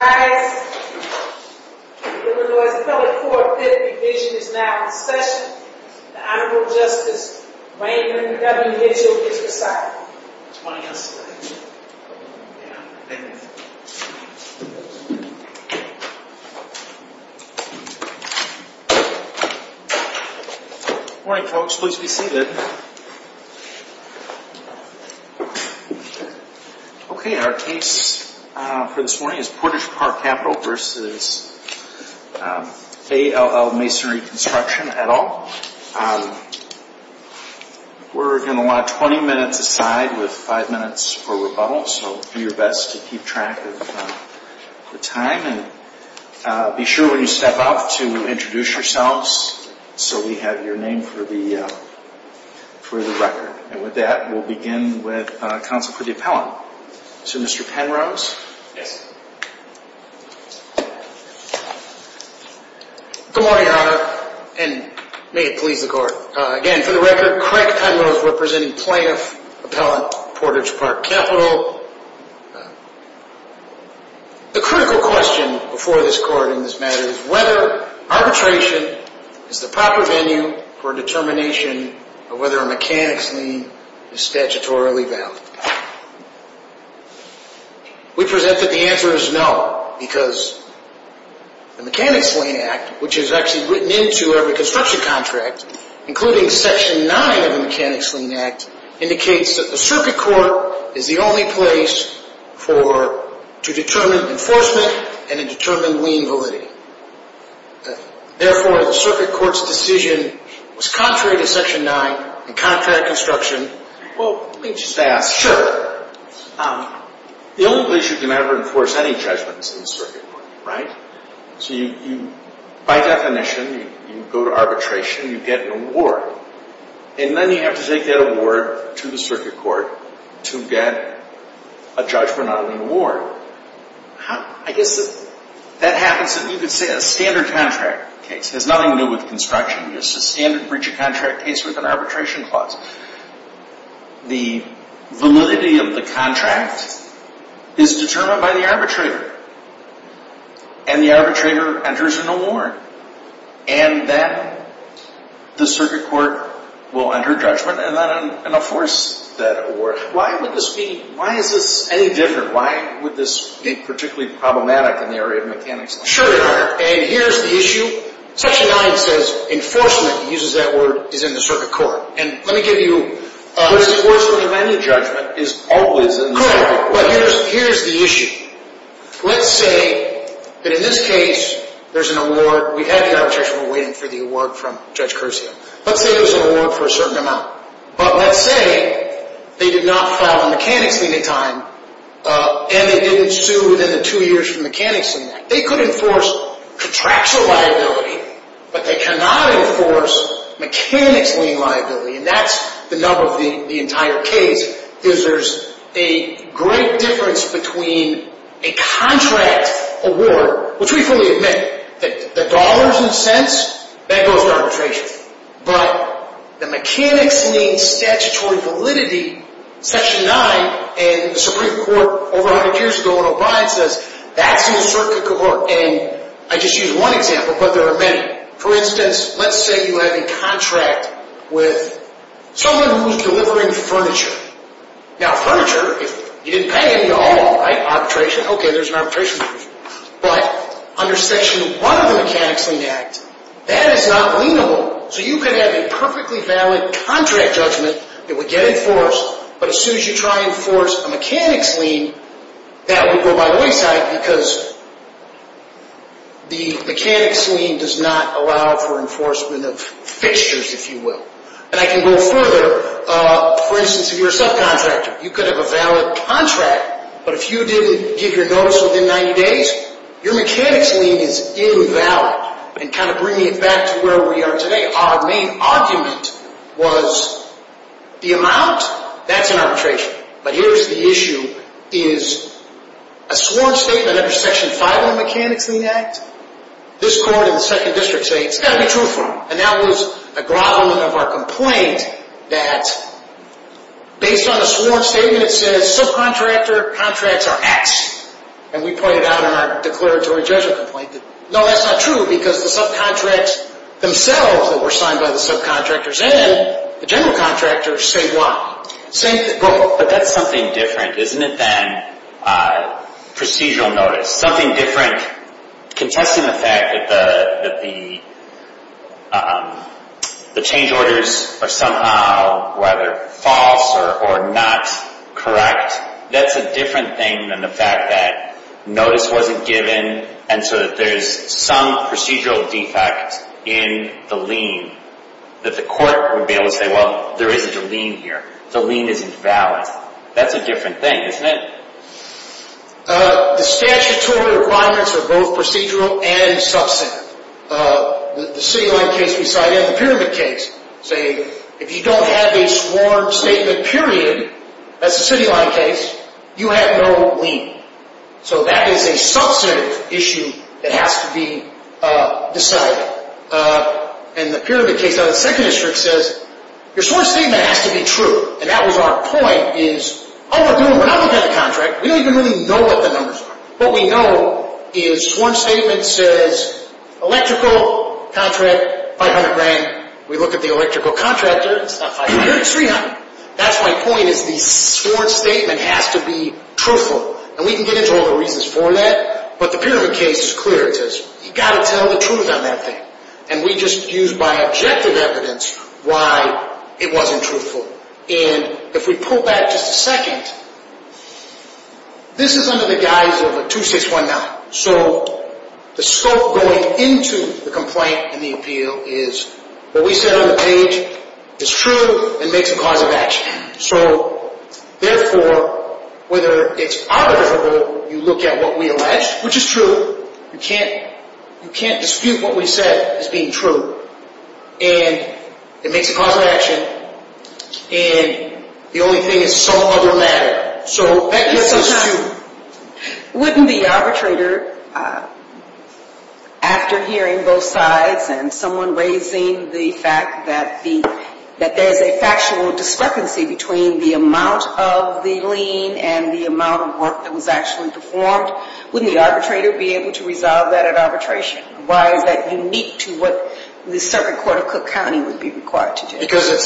Guys, the Illinois Appellate Court Fifth Division is now in session. The Honorable Justice Wayne W. Mitchell is residing. Good morning, folks. Please be seated. Okay, our case for this morning is Portage Park Capital v. A.L.L. Masonry Construction, et al. We're going to want 20 minutes aside with 5 minutes for rebuttal, so do your best to keep track of the time. Again, be sure when you step up to introduce yourselves so we have your name for the record. And with that, we'll begin with counsel for the appellant. So, Mr. Penrose? Yes. Good morning, Your Honor, and may it please the Court. Again, for the record, Craig Penrose representing Plaintiff Appellant Portage Park Capital. The critical question before this Court in this matter is whether arbitration is the proper venue for determination of whether a mechanics lien is statutorily valid. We present that the answer is no, because the Mechanics Lien Act, which is actually written into every construction contract, including Section 9 of the Mechanics Lien Act, indicates that the circuit court is the only place to determine enforcement and to determine lien validity. Therefore, the circuit court's decision was contrary to Section 9 in contract construction. Well, let me just ask. Sure. The only place you can ever enforce any judgment is in the circuit court, right? So, by definition, you go to arbitration, you get an award, and then you have to take that award to the circuit court to get a judgment on an award. I guess that happens in, you could say, a standard contract case. It has nothing to do with construction. It's a standard breach of contract case with an arbitration clause. The validity of the contract is determined by the arbitrator, and the arbitrator enters an award. And then the circuit court will enter judgment and then enforce that award. Why would this be? Why is this any different? Why would this be particularly problematic in the area of mechanics? Sure. And here's the issue. Section 9 says enforcement. It uses that word, is in the circuit court. And let me give you a… But enforcing any judgment is always in the circuit court. Correct. But here's the issue. Let's say that in this case, there's an award. We have the arbitration. We're waiting for the award from Judge Caruso. Let's say there's an award for a certain amount. But let's say they did not file a mechanics lien in time, and they didn't sue within the two years from the mechanics lien. They could enforce contractual liability, but they cannot enforce mechanics lien liability. And that's the nub of the entire case, is there's a great difference between a contract award, which we fully admit. The dollars and cents, that goes to arbitration. But the mechanics lien statutory validity, Section 9 and the Supreme Court over 100 years ago in O'Brien says, that's in the circuit court. And I just used one example, but there are many. For instance, let's say you have a contract with someone who's delivering furniture. Now, furniture, if you didn't pay him, you owe him, right? Arbitration. Okay, there's an arbitration. But under Section 1 of the Mechanics Lien Act, that is not lienable. So you could have a perfectly valid contract judgment that would get enforced. But as soon as you try and force a mechanics lien, that would go by wayside because the mechanics lien does not allow for enforcement of fixtures, if you will. And I can go further. For instance, if you're a subcontractor, you could have a valid contract, but if you didn't give your notice within 90 days, your mechanics lien is invalid. And kind of bringing it back to where we are today, our main argument was the amount, that's an arbitration. But here's the issue, is a sworn statement under Section 5 of the Mechanics Lien Act, this court and the second district say, it's got to be truthful. And that was a groveling of our complaint that based on the sworn statement, it says subcontractor contracts are X. And we pointed out in our declaratory judgment complaint, no, that's not true because the subcontracts themselves that were signed by the subcontractors and the general contractors say Y. But that's something different, isn't it, than procedural notice. Something different, contesting the fact that the change orders are somehow, whether false or not, correct. That's a different thing than the fact that notice wasn't given and so that there's some procedural defect in the lien that the court would be able to say, well, there isn't a lien here. The lien is invalid. That's a different thing, isn't it? The statutory requirements are both procedural and substantive. The city line case we cited, the pyramid case, saying if you don't have a sworn statement, period, that's the city line case, you have no lien. So that is a substantive issue that has to be decided. And the pyramid case out of the 2nd District says your sworn statement has to be true. And that was our point is all we're doing, when I look at the contract, we don't even really know what the numbers are. What we know is sworn statement says electrical contract, 500 grand. We look at the electrical contractor, it's not 500, it's 300. That's my point is the sworn statement has to be truthful. And we can get into all the reasons for that. But the pyramid case is clear. It says you've got to tell the truth on that thing. And we just used my objective evidence why it wasn't truthful. And if we pull back just a second, this is under the guise of a 2619. So the scope going into the complaint and the appeal is what we said on the page is true and makes a cause of action. So therefore, whether it's arbitrable, you look at what we allege, which is true. You can't dispute what we said as being true. And it makes a cause of action. And the only thing is some other matter. Wouldn't the arbitrator, after hearing both sides and someone raising the fact that there's a factual discrepancy between the amount of the lien and the amount of work that was actually performed, wouldn't the arbitrator be able to resolve that at arbitration? Why is that unique to what the circuit court of Cook County would be required to do? The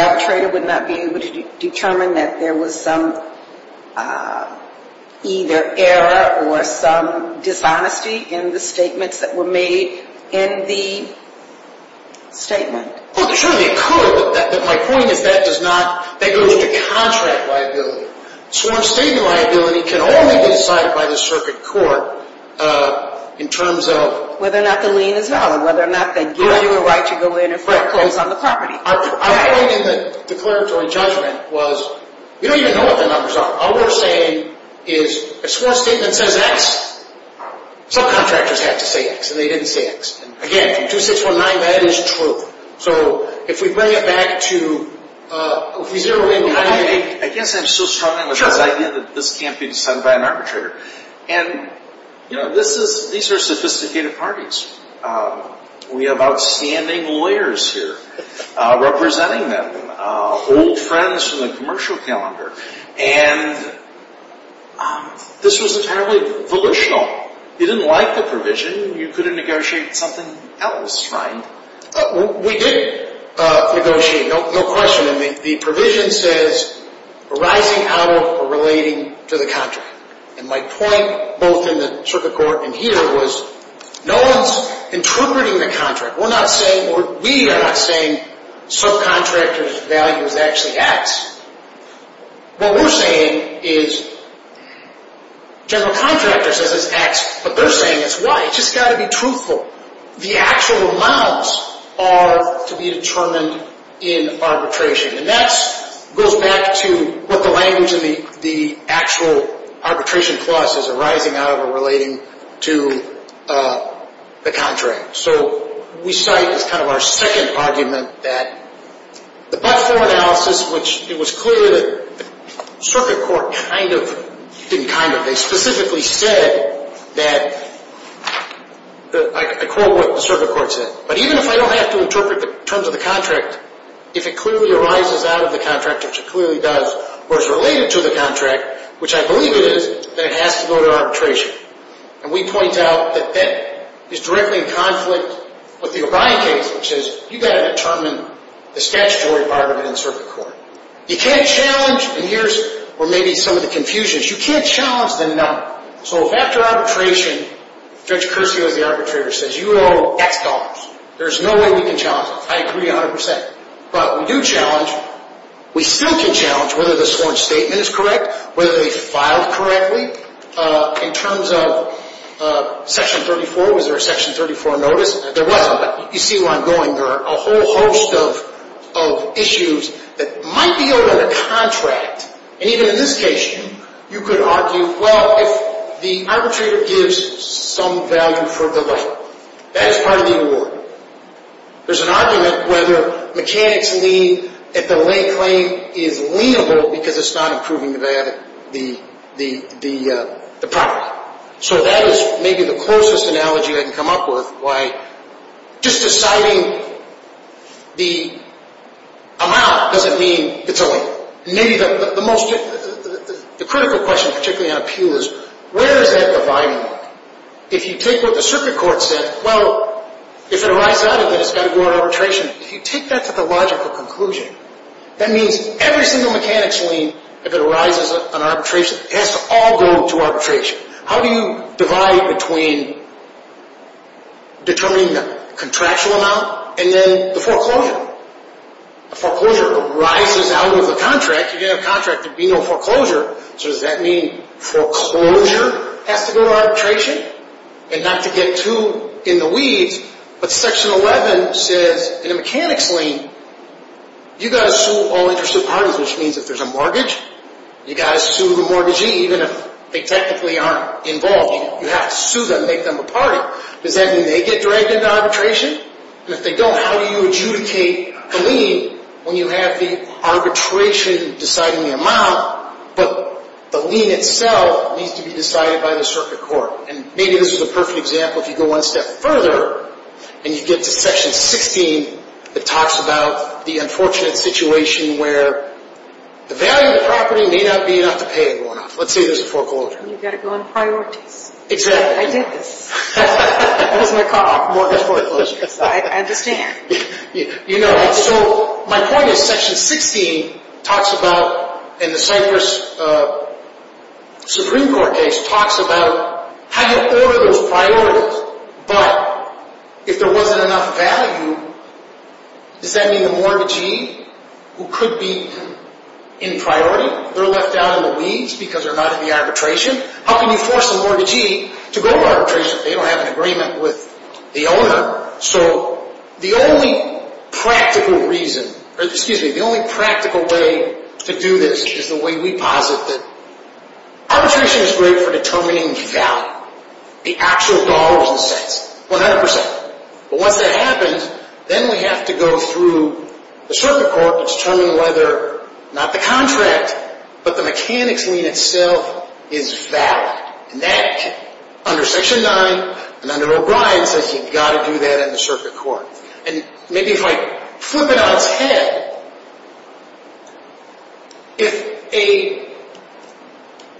arbitrator would not be able to determine that there was some either error or some dishonesty in the statements that were made in the statement. Well, surely they could, but my point is that goes to contract liability. Sworn statement liability can only be decided by the circuit court in terms of… Whether or not the lien is valid, whether or not they give you a right to go in and foreclose on the property. My point in the declaratory judgment was you don't even know what the numbers are. All we're saying is a sworn statement says X. Some contractors have to say X and they didn't say X. Again, from 2619, that is true. So if we bring it back to… I guess I'm still struggling with this idea that this can't be decided by an arbitrator. And these are sophisticated parties. We have outstanding lawyers here representing them. Old friends from the commercial calendar. And this was entirely volitional. You didn't like the provision. You could have negotiated something else, right? We did negotiate, no question. And the provision says arising out of or relating to the contract. And my point, both in the circuit court and here, was no one's interpreting the contract. We're not saying or we are not saying subcontractor's value is actually X. What we're saying is general contractor says it's X, but they're saying it's Y. It's just got to be truthful. The actual amounts are to be determined in arbitration. And that goes back to what the language in the actual arbitration clause is arising out of or relating to the contract. So we cite as kind of our second argument that the but-for analysis, which it was clear that the circuit court kind of didn't kind of. They specifically said that, I quote what the circuit court said, But even if I don't have to interpret the terms of the contract, if it clearly arises out of the contract, which it clearly does, or is related to the contract, which I believe it is, then it has to go to arbitration. And we point out that that is directly in conflict with the O'Brien case, which is you've got to determine the statutory part of it in the circuit court. You can't challenge, and here's where maybe some of the confusion is, you can't challenge the number. So after arbitration, Judge Curcio is the arbitrator, says you owe X dollars. There's no way we can challenge this. I agree 100 percent. But we do challenge. We still can challenge whether the sworn statement is correct, whether they filed correctly. In terms of Section 34, was there a Section 34 notice? There wasn't, but you see where I'm going. There are a whole host of issues that might be owed on the contract. And even in this case, you could argue, well, if the arbitrator gives some value for the lay, that is part of the award. There's an argument whether mechanics lien, if the lay claim is lienable because it's not improving the property. So that is maybe the closest analogy I can come up with, why just deciding the amount doesn't mean it's a lien. So maybe the most critical question, particularly on appeal, is where does that divide work? If you take what the circuit court said, well, if it arises out of it, it's got to go on arbitration. If you take that to the logical conclusion, that means every single mechanics lien, if it arises on arbitration, has to all go to arbitration. How do you divide between determining the contractual amount and then the foreclosure? The foreclosure arises out of the contract. If you have a contract, there would be no foreclosure. So does that mean foreclosure has to go to arbitration and not to get too in the weeds? But Section 11 says in a mechanics lien, you've got to sue all interested parties, which means if there's a mortgage, you've got to sue the mortgagee, even if they technically aren't involved. You have to sue them, make them a party. Does that mean they get dragged into arbitration? And if they don't, how do you adjudicate the lien when you have the arbitration deciding the amount, but the lien itself needs to be decided by the circuit court? And maybe this is a perfect example. If you go one step further and you get to Section 16, it talks about the unfortunate situation where the value of the property may not be enough to pay it going off. Let's say there's a foreclosure. You've got to go on priorities. Exactly. I did this. I was going to call off mortgage foreclosures. I understand. You know, so my point is Section 16 talks about, in the Cypress Supreme Court case, talks about how you order those priorities, but if there wasn't enough value, does that mean the mortgagee who could be in priority, they're left out in the weeds because they're not in the arbitration? How can you force a mortgagee to go to arbitration if they don't have an agreement with the owner? So the only practical reason, or excuse me, the only practical way to do this is the way we posit that arbitration is great for determining the value, the actual dollars and cents, 100%. But once that happens, then we have to go through the circuit court and determine whether, not the contract, but the mechanics lien itself is valid. And that, under Section 9 and under O'Brien, says you've got to do that in the circuit court. And maybe if I flip it on its head, if a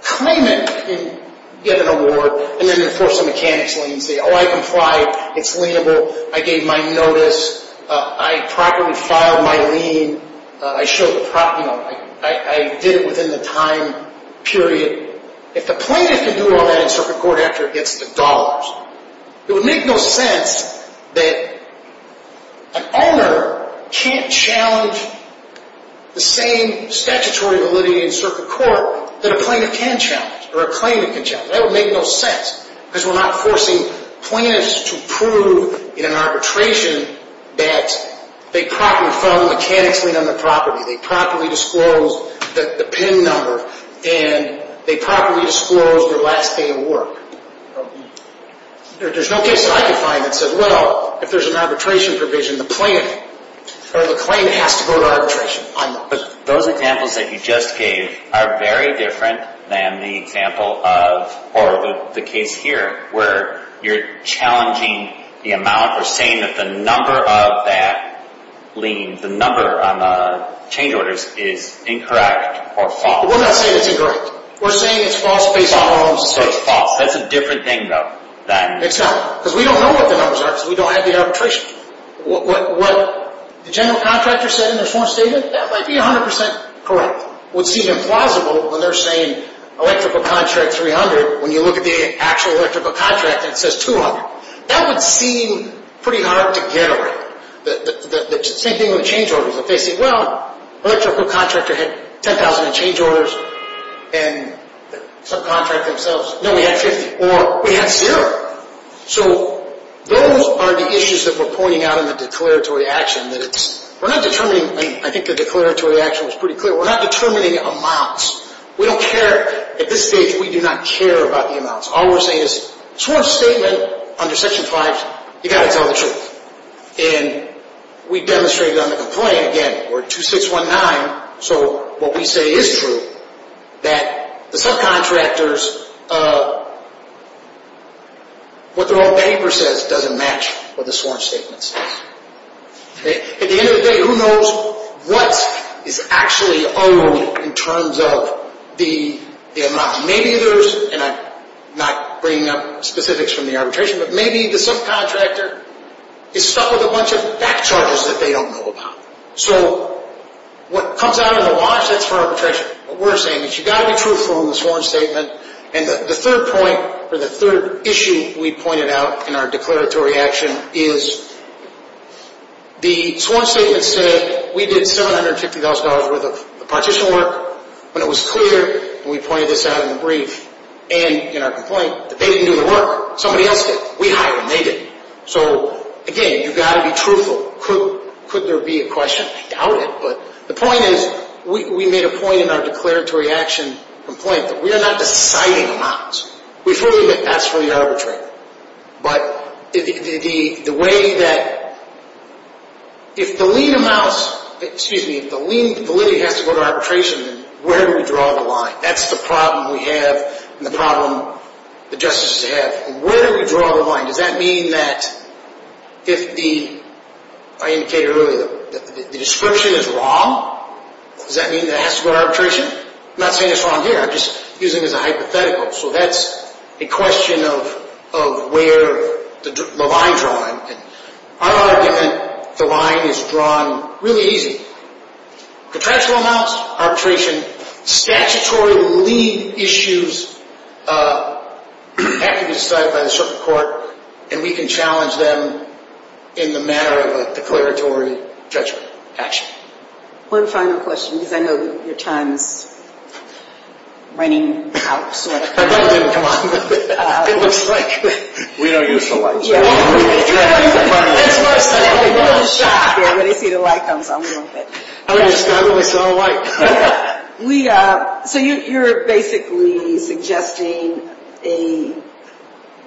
claimant can get an award and then enforce a mechanics lien and say, oh, I complied. It's lienable. I gave my notice. I properly filed my lien. I did it within the time period. If the plaintiff can do all that in circuit court after it gets the dollars, it would make no sense that an owner can't challenge the same statutory validity in circuit court that a plaintiff can challenge or a claimant can challenge. That would make no sense because we're not forcing plaintiffs to prove in an arbitration that they properly filed a mechanics lien on the property, they properly disclosed the PIN number, and they properly disclosed their last day of work. There's no case that I could find that said, well, if there's an arbitration provision, the claim has to go to arbitration. But those examples that you just gave are very different than the example of or the case here where you're challenging the amount or saying that the number of that lien, the number on the change orders is incorrect or false. We're not saying it's incorrect. We're saying it's false based on our own assessment. So it's false. That's a different thing, though. It's not because we don't know what the numbers are because we don't have the arbitration. What the general contractor said in their sworn statement, that might be 100% correct. It would seem implausible when they're saying electrical contract 300 when you look at the actual electrical contract and it says 200. That would seem pretty hard to get around. The same thing with change orders. If they say, well, electrical contractor had 10,000 in change orders and subcontract themselves. No, we had 50. Or we had zero. So those are the issues that we're pointing out in the declaratory action. We're not determining. I think the declaratory action was pretty clear. We're not determining amounts. We don't care. At this stage, we do not care about the amounts. All we're saying is, sworn statement under Section 5, you've got to tell the truth. And we demonstrated on the complaint, again, we're 2619. So what we say is true, that the subcontractors, what their own paper says doesn't match what the sworn statement says. At the end of the day, who knows what is actually unruly in terms of the amounts. Maybe there's, and I'm not bringing up specifics from the arbitration, but maybe the subcontractor is stuck with a bunch of back charges that they don't know about. So what comes out on the watch, that's for arbitration. What we're saying is you've got to be truthful in the sworn statement. And the third point, or the third issue we pointed out in our declaratory action is the sworn statement said we did $750,000 worth of partition work. When it was clear, and we pointed this out in the brief, and in our complaint, that they didn't do the work. Somebody else did. We hired them. So, again, you've got to be truthful. Could there be a question? I doubt it, but the point is we made a point in our declaratory action complaint that we are not deciding amounts. We fully admit that's for the arbitrator. But the way that, if the lien amounts, excuse me, if the lien validity has to go to arbitration, where do we draw the line? That's the problem we have, and the problem the justices have. Where do we draw the line? Does that mean that if the, I indicated earlier, the description is wrong, does that mean it has to go to arbitration? I'm not saying it's wrong here. I'm just using it as a hypothetical. So that's a question of where the line is drawn. Our argument, the line is drawn really easy. Contractual amounts, arbitration. Statutory lien issues have to be decided by the Supreme Court, and we can challenge them in the matter of a declaratory judgment action. One final question, because I know your time is running out. My light didn't come on. It looks like. We don't use the lights. That's what I'm saying. I'm a little shocked here when I see the light comes on a little bit. I understand when I saw the light. So you're basically suggesting a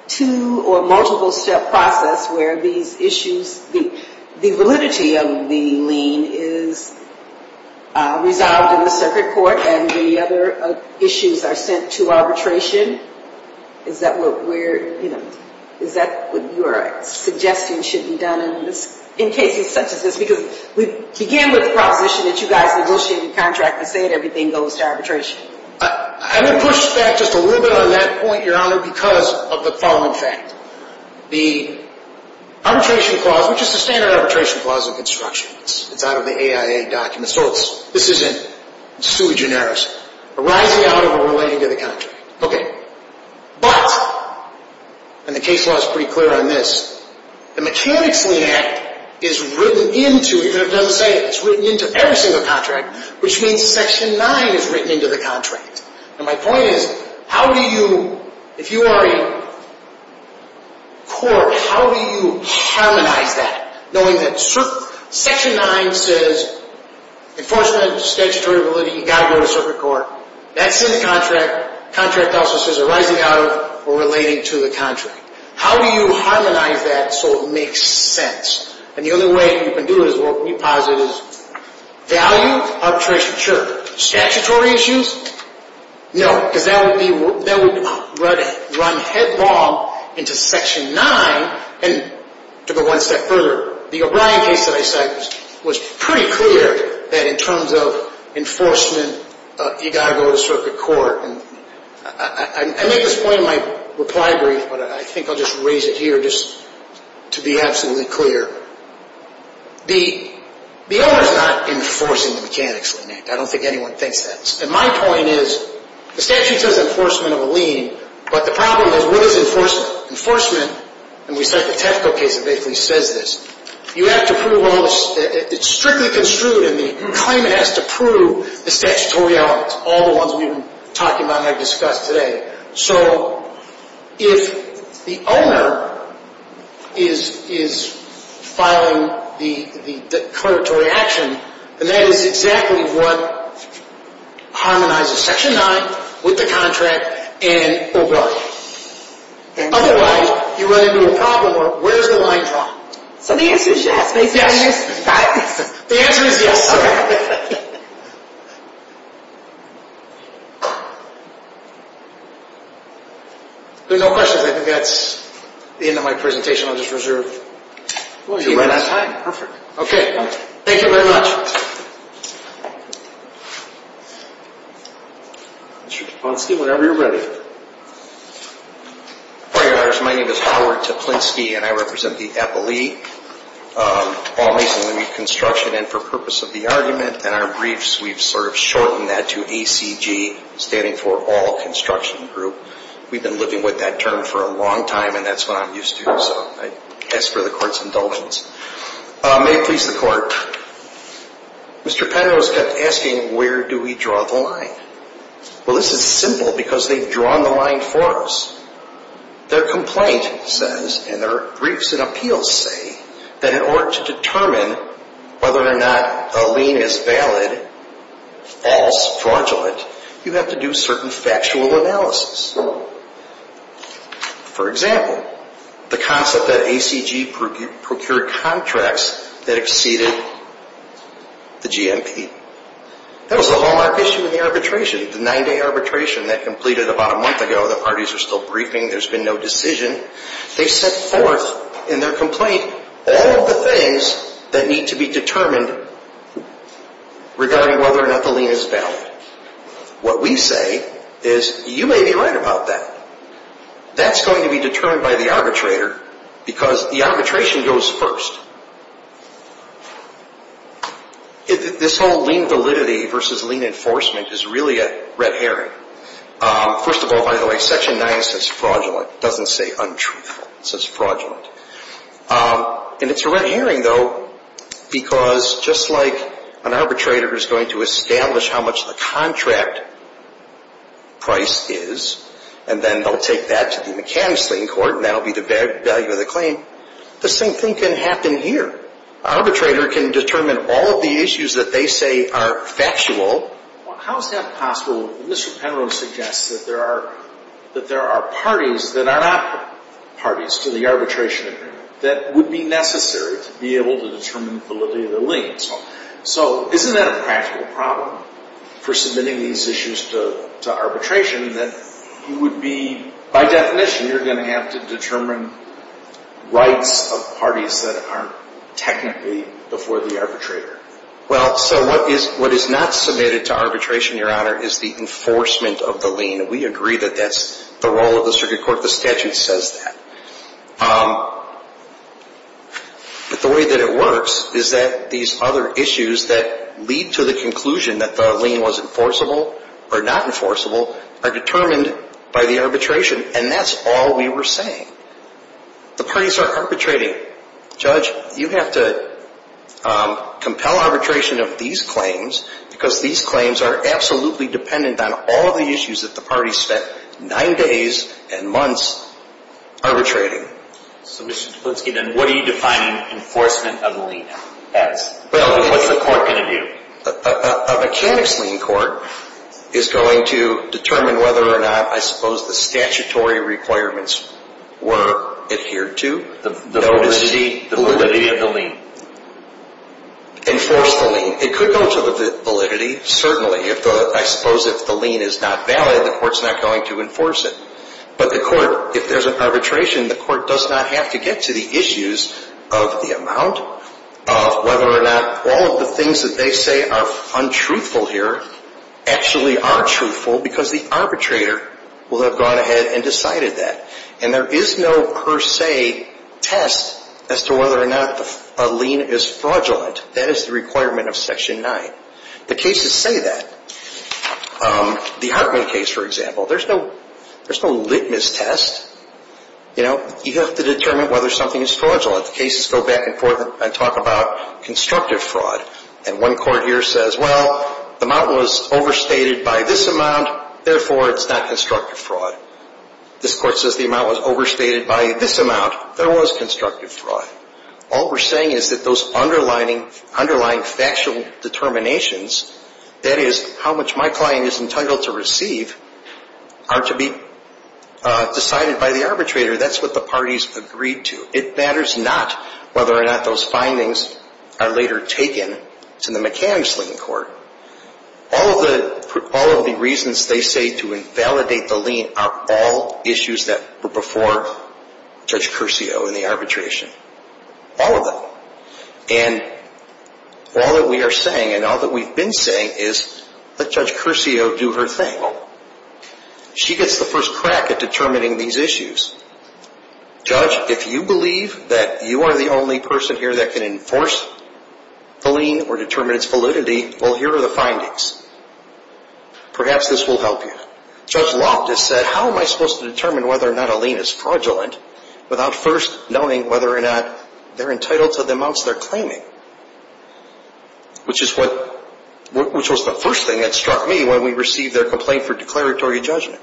two- or multiple-step process where these issues, the validity of the lien is resolved in the circuit court, and the other issues are sent to arbitration? Is that what we're, you know, is that what you're suggesting should be done in cases such as this? Because we began with the proposition that you guys negotiated the contract and said everything goes to arbitration. I'm going to push back just a little bit on that point, Your Honor, because of the following fact. The arbitration clause, which is the standard arbitration clause in construction. It's out of the AIA documents, so this isn't sui generis, arising out of or relating to the contract. Okay. But, and the case law is pretty clear on this, the Mechanics Lien Act is written into, even if it doesn't say it, it's written into every single contract, which means Section 9 is written into the contract. And my point is, how do you, if you are a court, how do you harmonize that, knowing that Section 9 says, Enforcement, statutory validity, you've got to go to circuit court. That's in the contract. Contract also says arising out of or relating to the contract. How do you harmonize that so it makes sense? And the only way you can do it is what we posit is value, arbitration, sure. Statutory issues? No, because that would be, that would run headlong into Section 9 and to go one step further. The O'Brien case that I cited was pretty clear that in terms of enforcement, you've got to go to circuit court. And I make this point in my reply brief, but I think I'll just raise it here just to be absolutely clear. The owner is not enforcing the Mechanics Lien Act. I don't think anyone thinks that. And my point is, the statute says enforcement of a lien, but the problem is, what is enforcement? And we cite the Tefco case that basically says this. You have to prove all this. It's strictly construed in the claim it has to prove the statutory elements, all the ones we've been talking about and have discussed today. So if the owner is filing the declaratory action, then that is exactly what harmonizes Section 9 with the contract and O'Brien. Otherwise, you run into a problem where where's the line drawn? So the answer is yes, basically? Yes. The answer is yes, sir. Okay. There are no questions. I think that's the end of my presentation. I'll just reserve a few minutes. Well, you're right on time. Perfect. Okay. Thank you very much. Mr. Teplinski, whenever you're ready. My name is Howard Teplinski, and I represent the Appalachian Reconstruction. And for purpose of the argument and our briefs, we've sort of shortened that to ACG, standing for All Construction Group. We've been living with that term for a long time, and that's what I'm used to. So I ask for the Court's indulgence. May it please the Court. Mr. Penrose kept asking, where do we draw the line? Well, this is simple because they've drawn the line for us. Their complaint says, and their briefs and appeals say, that in order to determine whether or not a lien is valid, false, fraudulent, you have to do certain factual analysis. For example, the concept that ACG procured contracts that exceeded the GMP. That was the hallmark issue in the arbitration, the nine-day arbitration that completed about a month ago. The parties are still briefing. There's been no decision. They set forth in their complaint all of the things that need to be determined regarding whether or not the lien is valid. What we say is, you may be right about that. That's going to be determined by the arbitrator because the arbitration goes first. This whole lien validity versus lien enforcement is really a red herring. First of all, by the way, Section 9 says fraudulent. It doesn't say untruthful. It says fraudulent. And it's a red herring, though, because just like an arbitrator is going to establish how much the contract price is, and then they'll take that to the mechanics lien court, and that will be the value of the claim, the same thing can happen here. An arbitrator can determine all of the issues that they say are factual. How is that possible? Mr. Penrose suggests that there are parties that are not parties to the arbitration that would be necessary to be able to determine validity of the lien. So isn't that a practical problem for submitting these issues to arbitration, that you would be, by definition, you're going to have to determine rights of parties that aren't technically before the arbitrator? Well, so what is not submitted to arbitration, Your Honor, is the enforcement of the lien. We agree that that's the role of the circuit court. The statute says that. But the way that it works is that these other issues that lead to the conclusion that the lien was enforceable or not enforceable are determined by the arbitration, and that's all we were saying. The parties are arbitrating. Judge, you have to compel arbitration of these claims, because these claims are absolutely dependent on all of the issues that the parties spent nine days and months arbitrating. So, Mr. Duplinski, then what are you defining enforcement of the lien as? What's the court going to do? A mechanics lien court is going to determine whether or not, I suppose, the statutory requirements were adhered to. The validity of the lien. Enforce the lien. It could go to the validity, certainly. I suppose if the lien is not valid, the court's not going to enforce it. But the court, if there's an arbitration, the court does not have to get to the issues of the amount, of whether or not all of the things that they say are untruthful here actually are truthful, because the arbitrator will have gone ahead and decided that. And there is no per se test as to whether or not a lien is fraudulent. That is the requirement of Section 9. The cases say that. The Huckman case, for example, there's no litmus test. You have to determine whether something is fraudulent. The cases go back and forth and talk about constructive fraud. And one court here says, well, the amount was overstated by this amount, therefore it's not constructive fraud. This court says the amount was overstated by this amount, there was constructive fraud. All we're saying is that those underlying factual determinations, that is how much my client is entitled to receive, are to be decided by the arbitrator. That's what the parties agreed to. It matters not whether or not those findings are later taken to the mechanics lien court. All of the reasons they say to invalidate the lien are all issues that were before Judge Curcio in the arbitration. All of them. And all that we are saying and all that we've been saying is, let Judge Curcio do her thing. She gets the first crack at determining these issues. Judge, if you believe that you are the only person here that can enforce the lien or determine its validity, well, here are the findings. Perhaps this will help you. Judge Loftus said, how am I supposed to determine whether or not a lien is fraudulent without first knowing whether or not they're entitled to the amounts they're claiming? Which was the first thing that struck me when we received their complaint for declaratory judgment.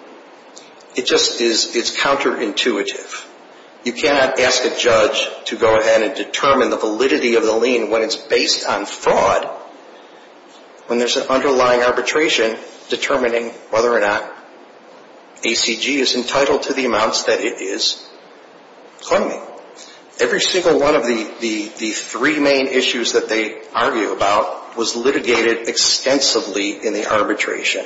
It just is counterintuitive. You cannot ask a judge to go ahead and determine the validity of the lien when it's based on fraud. When there's an underlying arbitration determining whether or not ACG is entitled to the amounts that it is claiming. Every single one of the three main issues that they argue about was litigated extensively in the arbitration.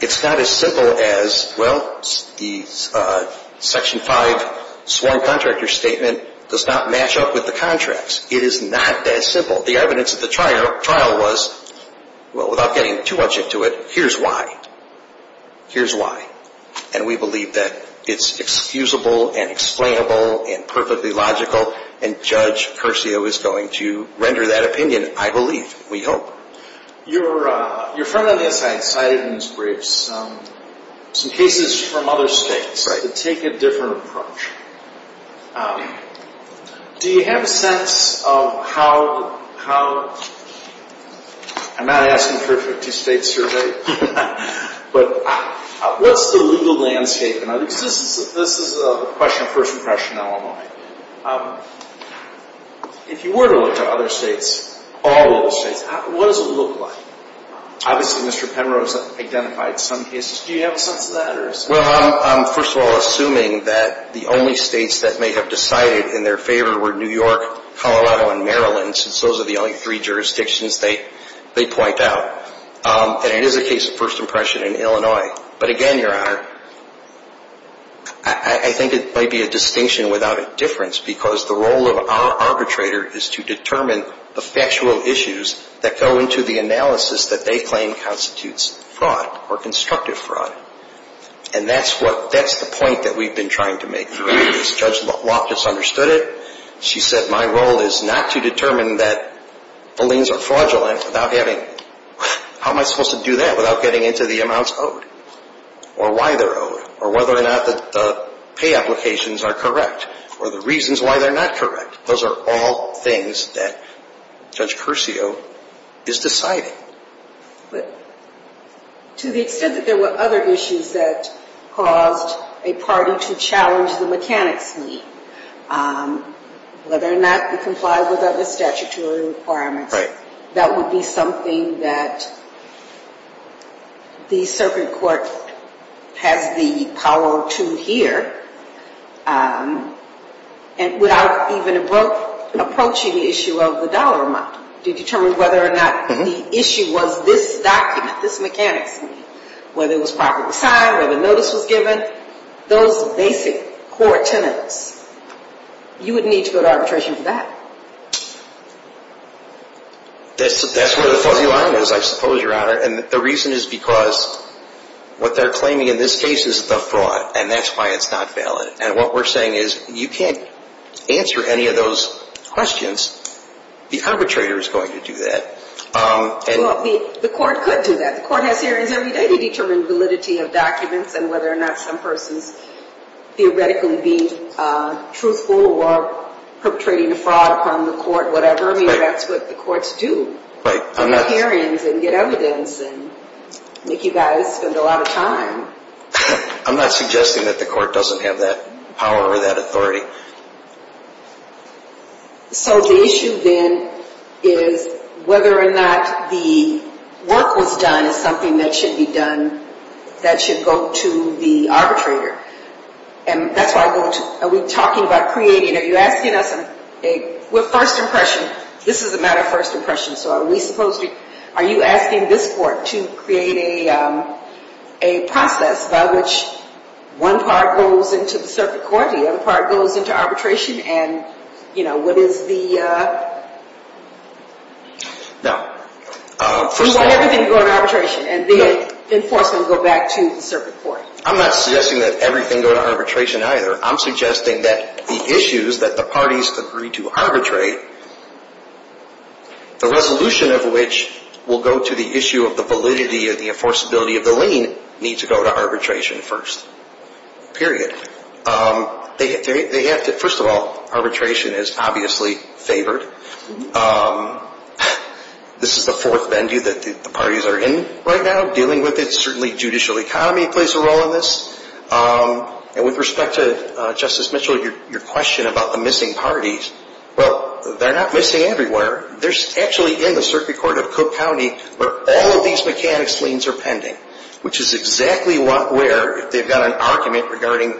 It's not as simple as, well, the Section 5 sworn contractor statement does not match up with the contracts. It is not that simple. The evidence of the trial was, well, without getting too much into it, here's why. Here's why. And we believe that it's excusable and explainable and perfectly logical, and Judge Curcio is going to render that opinion, I believe, we hope. Your friend on the inside cited in his brief some cases from other states that take a different approach. Do you have a sense of how, I'm not asking for a 50-state survey, but what's the legal landscape? This is a question of first impression in Illinois. If you were to look at other states, all of the states, what does it look like? Obviously, Mr. Penrose identified some cases. Do you have a sense of that? Well, I'm, first of all, assuming that the only states that may have decided in their favor were New York, Colorado, and Maryland, since those are the only three jurisdictions they point out. And it is a case of first impression in Illinois. But again, Your Honor, I think it might be a distinction without a difference, because the role of our arbitrator is to determine the factual issues that go into the analysis that they claim constitutes fraud or constructive fraud. And that's the point that we've been trying to make. Judge Loftus understood it. She said my role is not to determine that the liens are fraudulent without having, how am I supposed to do that without getting into the amounts owed or why they're owed or whether or not the pay applications are correct or the reasons why they're not correct. Those are all things that Judge Curcio is deciding. But to the extent that there were other issues that caused a party to challenge the mechanics whether or not it complied with other statutory requirements, that would be something that the circuit court has the power to hear without even approaching the issue of the dollar amount. To determine whether or not the issue was this document, this mechanics, whether it was properly signed, whether the notice was given, those basic core tenets, you would need to go to arbitration for that. That's where the fuzzy line is, I suppose, Your Honor. And the reason is because what they're claiming in this case is the fraud, and that's why it's not valid. And what we're saying is you can't answer any of those questions. The arbitrator is going to do that. The court could do that. The court has hearings every day to determine validity of documents and whether or not some person is theoretically being truthful or perpetrating a fraud upon the court, whatever. I mean, that's what the courts do. Right. Do hearings and get evidence and make you guys spend a lot of time. I'm not suggesting that the court doesn't have that power or that authority. So the issue then is whether or not the work was done is something that should be done, that should go to the arbitrator. And that's why I go to, are we talking about creating, are you asking us a, we're first impression. This is a matter of first impression. So are we supposed to, are you asking this court to create a process by which one part goes into the circuit court, the other part goes into arbitration and, you know, what is the. No. We want everything to go to arbitration and the enforcement will go back to the circuit court. I'm not suggesting that everything go to arbitration either. I'm suggesting that the issues that the parties agree to arbitrate, the resolution of which will go to the issue of the validity of the enforceability of the lien needs to go to arbitration first. Period. They have to, first of all, arbitration is obviously favored. This is the fourth venue that the parties are in right now dealing with it. Certainly judicial economy plays a role in this. And with respect to Justice Mitchell, your question about the missing parties, well, they're not missing everywhere. They're actually in the circuit court of Cook County where all of these mechanics liens are pending, which is exactly where if they've got an argument regarding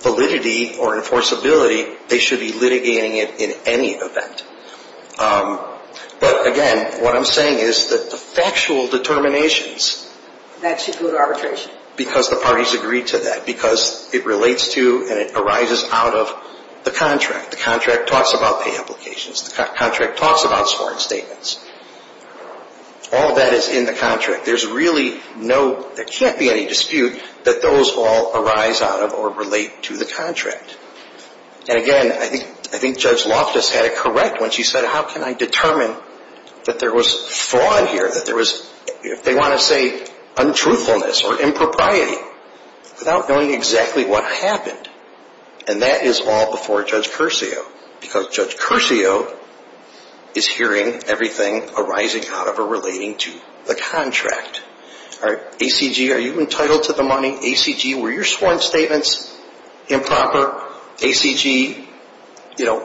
validity or enforceability, they should be litigating it in any event. But, again, what I'm saying is that the factual determinations. That should go to arbitration. Because the parties agree to that, because it relates to and it arises out of the contract. The contract talks about pay applications. The contract talks about sworn statements. All of that is in the contract. There's really no, there can't be any dispute that those all arise out of or relate to the contract. And, again, I think Judge Loftus had it correct when she said how can I determine that there was fraud here, that there was, if they want to say, untruthfulness or impropriety without knowing exactly what happened. And that is all before Judge Curcio, because Judge Curcio is hearing everything arising out of or relating to the contract. All right, ACG, are you entitled to the money? ACG, were your sworn statements improper? ACG, you know,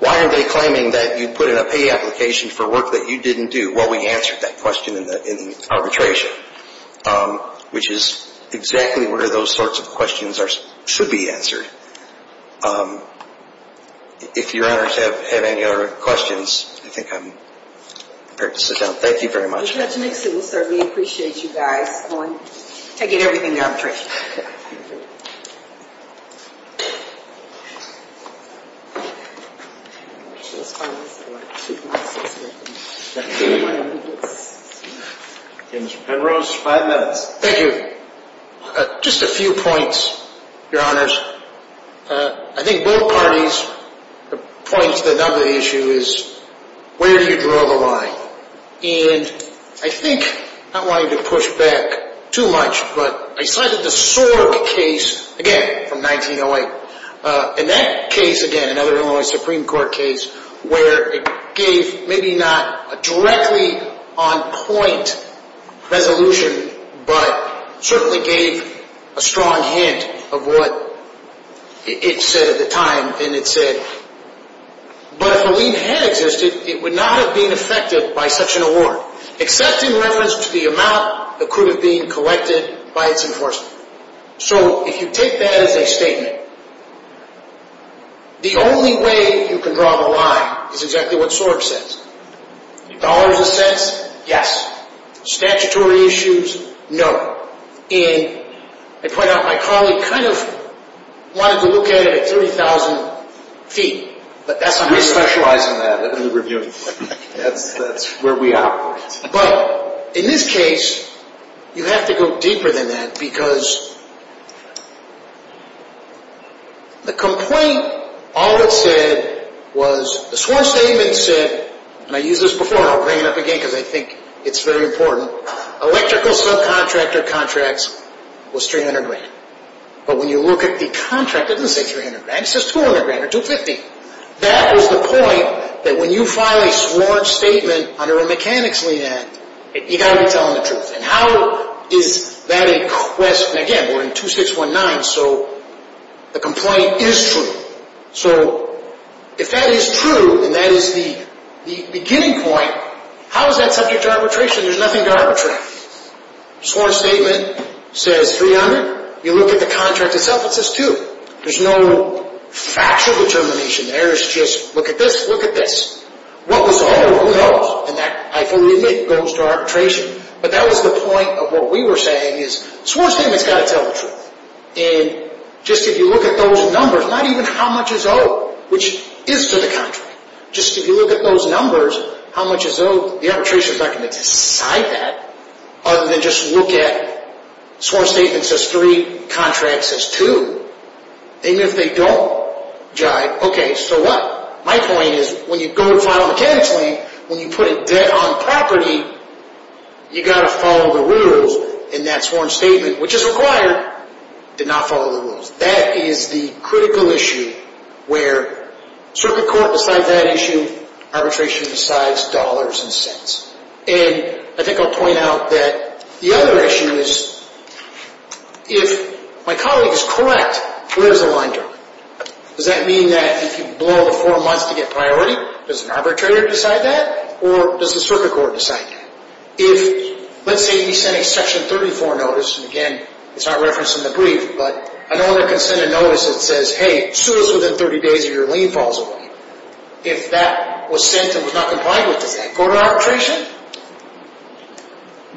why are they claiming that you put in a pay application for work that you didn't do? Well, we answered that question in the arbitration, which is exactly where those sorts of questions should be answered. If Your Honors have any other questions, I think I'm prepared to sit down. Thank you very much. Judge Nixon will serve. Okay, Mr. Penrose, five minutes. Thank you. Just a few points, Your Honors. I think both parties, the points that nub the issue is where do you draw the line? And I think, not wanting to push back too much, but I cited the Sorg case again from 1908. In that case, again, another Illinois Supreme Court case, where it gave maybe not a directly on point resolution, but certainly gave a strong hint of what it said at the time. And it said, but if a lien had existed, it would not have been affected by such an award, except in reference to the amount that could have been collected by its enforcement. So if you take that as a statement, the only way you can draw the line is exactly what Sorg says. Dollars of sense, yes. Statutory issues, no. And I point out my colleague kind of wanted to look at it at 30,000 feet. We specialize in that. That's what we're doing. That's where we operate. But in this case, you have to go deeper than that because the complaint, all it said was, the sworn statement said, and I used this before and I'll bring it up again because I think it's very important, electrical subcontractor contracts was 300 grand. But when you look at the contract, it doesn't say 300 grand. It says 200 grand or 250. That is the point that when you file a sworn statement under a mechanics lien act, you've got to be telling the truth. And how is that a quest? And again, we're in 2619, so the complaint is true. So if that is true and that is the beginning point, how is that subject to arbitration? There's nothing to arbitrate. Sworn statement says 300. You look at the contract itself, it says 200. There's no factual determination there. It's just look at this, look at this. What was owed? Who knows? And that, I fully admit, goes to arbitration. But that was the point of what we were saying is the sworn statement's got to tell the truth. And just if you look at those numbers, not even how much is owed, which is to the contract, just if you look at those numbers, how much is owed, the arbitration's not going to decide that other than just look at sworn statement says three, contract says two. Even if they don't jive, okay, so what? My point is when you go to file a mechanics lien, when you put a debt on property, you've got to follow the rules. And that sworn statement, which is required, did not follow the rules. That is the critical issue where circuit court decides that issue, arbitration decides dollars and cents. And I think I'll point out that the other issue is if my colleague is correct, where's the line drawn? Does that mean that if you blow the four months to get priority, does an arbitrator decide that or does the circuit court decide that? If, let's say he sent a Section 34 notice, and again, it's not referenced in the brief, but another consented notice that says, hey, sue us within 30 days or your lien falls away. If that was sent and was not complied with, does that go to arbitration?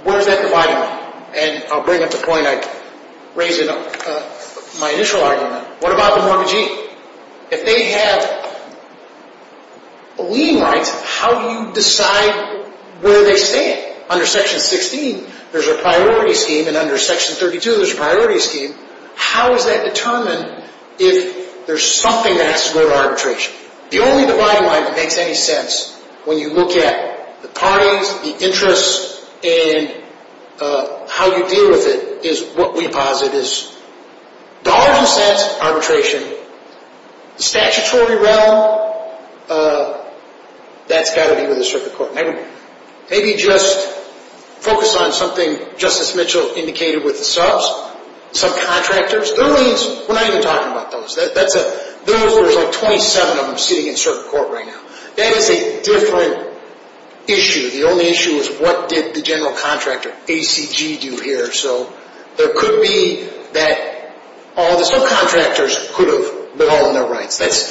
Where's that dividing line? And I'll bring up the point I raised in my initial argument. What about the mortgagee? If they have lien rights, how do you decide where they stand? Under Section 16, there's a priority scheme, and under Section 32, there's a priority scheme. How is that determined if there's something that has to go to arbitration? The only dividing line that makes any sense when you look at the parties, the interests, and how you deal with it is what we posit is dollars and cents, arbitration. The statutory realm, that's got to be with the circuit court. Maybe just focus on something Justice Mitchell indicated with the subs, subcontractors. We're not even talking about those. There's like 27 of them sitting in circuit court right now. That is a different issue. The only issue is what did the general contractor, ACG, do here. So there could be that all the subcontractors could have withheld their rights. That's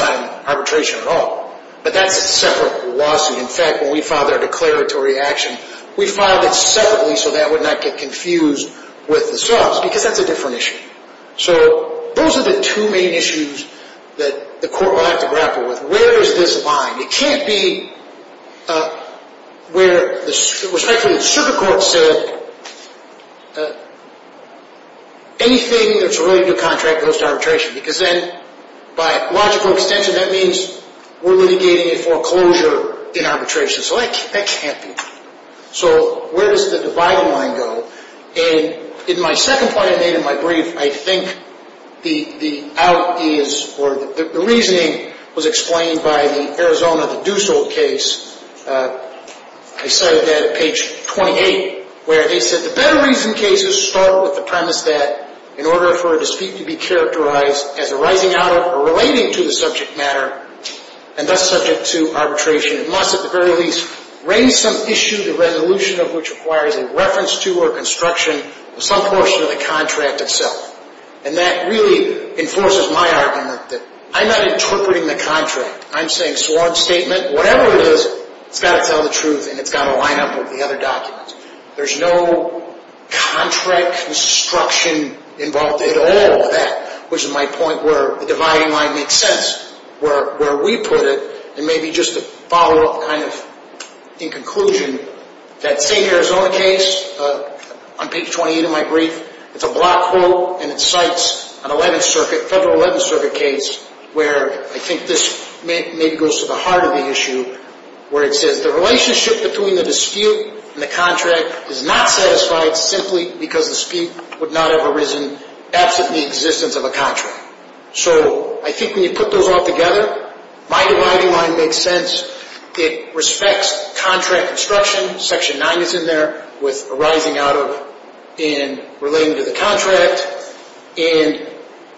not an arbitration at all, but that's a separate lawsuit. In fact, when we filed our declaratory action, we filed it separately so that would not get confused with the subs because that's a different issue. So those are the two main issues that the court will have to grapple with. Where is this lying? It can't be where the circuit court said anything that's a really new contract goes to arbitration because then by logical extension, that means we're litigating a foreclosure in arbitration. So that can't be. So where does the divide line go? And in my second point I made in my brief, I think the out is or the reasoning was explained by the Arizona, the Dussault case. I cited that at page 28 where they said, the better reason cases start with the premise that in order for a dispute to be characterized as arising out of or relating to the subject matter and thus subject to arbitration, it must at the very least raise some issue, the resolution of which requires a reference to or construction of some portion of the contract itself. And that really enforces my argument that I'm not interpreting the contract. I'm saying sworn statement, whatever it is, it's got to tell the truth and it's got to line up with the other documents. There's no contract construction involved at all with that, which is my point where the dividing line makes sense. Where we put it, and maybe just to follow up kind of in conclusion, that same Arizona case on page 28 of my brief, it's a block quote and it cites an 11th Circuit, Federal 11th Circuit case where I think this maybe goes to the heart of the issue, where it says the relationship between the dispute and the contract is not satisfied simply because the dispute would not have arisen absent the existence of a contract. So I think when you put those all together, my dividing line makes sense. It respects contract construction. Section 9 is in there with arising out of and relating to the contract. And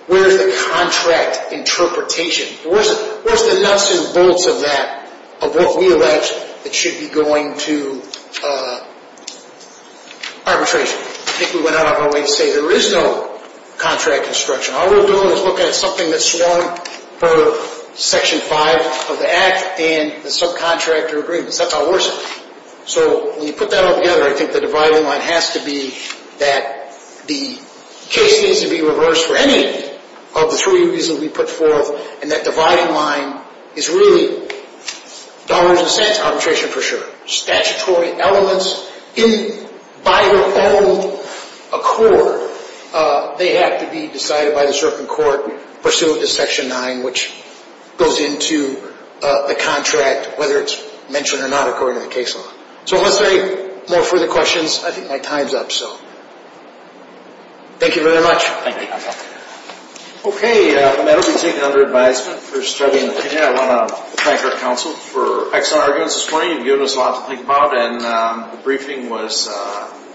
where's the contract interpretation? Where's the nuts and bolts of that, of what we allege that should be going to arbitration? I think we went out of our way to say there is no contract construction. All we're doing is looking at something that's sworn per Section 5 of the Act and the subcontractor agreements. That's how it works. So when you put that all together, I think the dividing line has to be that the case needs to be reversed for any of the three reasons we put forth, and that dividing line is really dollars and cents arbitration for sure. Statutory elements, by their own accord, they have to be decided by the circuit court, pursuant to Section 9, which goes into the contract, whether it's mentioned or not according to the case law. So unless there are any more further questions, I think my time's up. So thank you very much. Thank you. Okay, that'll be taken under advisement for study and opinion. I want to thank our counsel for excellent arguments this morning. You've given us a lot to think about, and the briefing was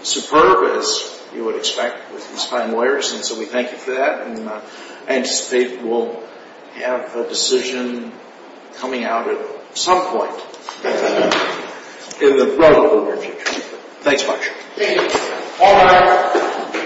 superb, as you would expect with these fine lawyers. And so we thank you for that, and I anticipate we'll have a decision coming out at some point in the relatively near future. Thanks much. Thank you. All right.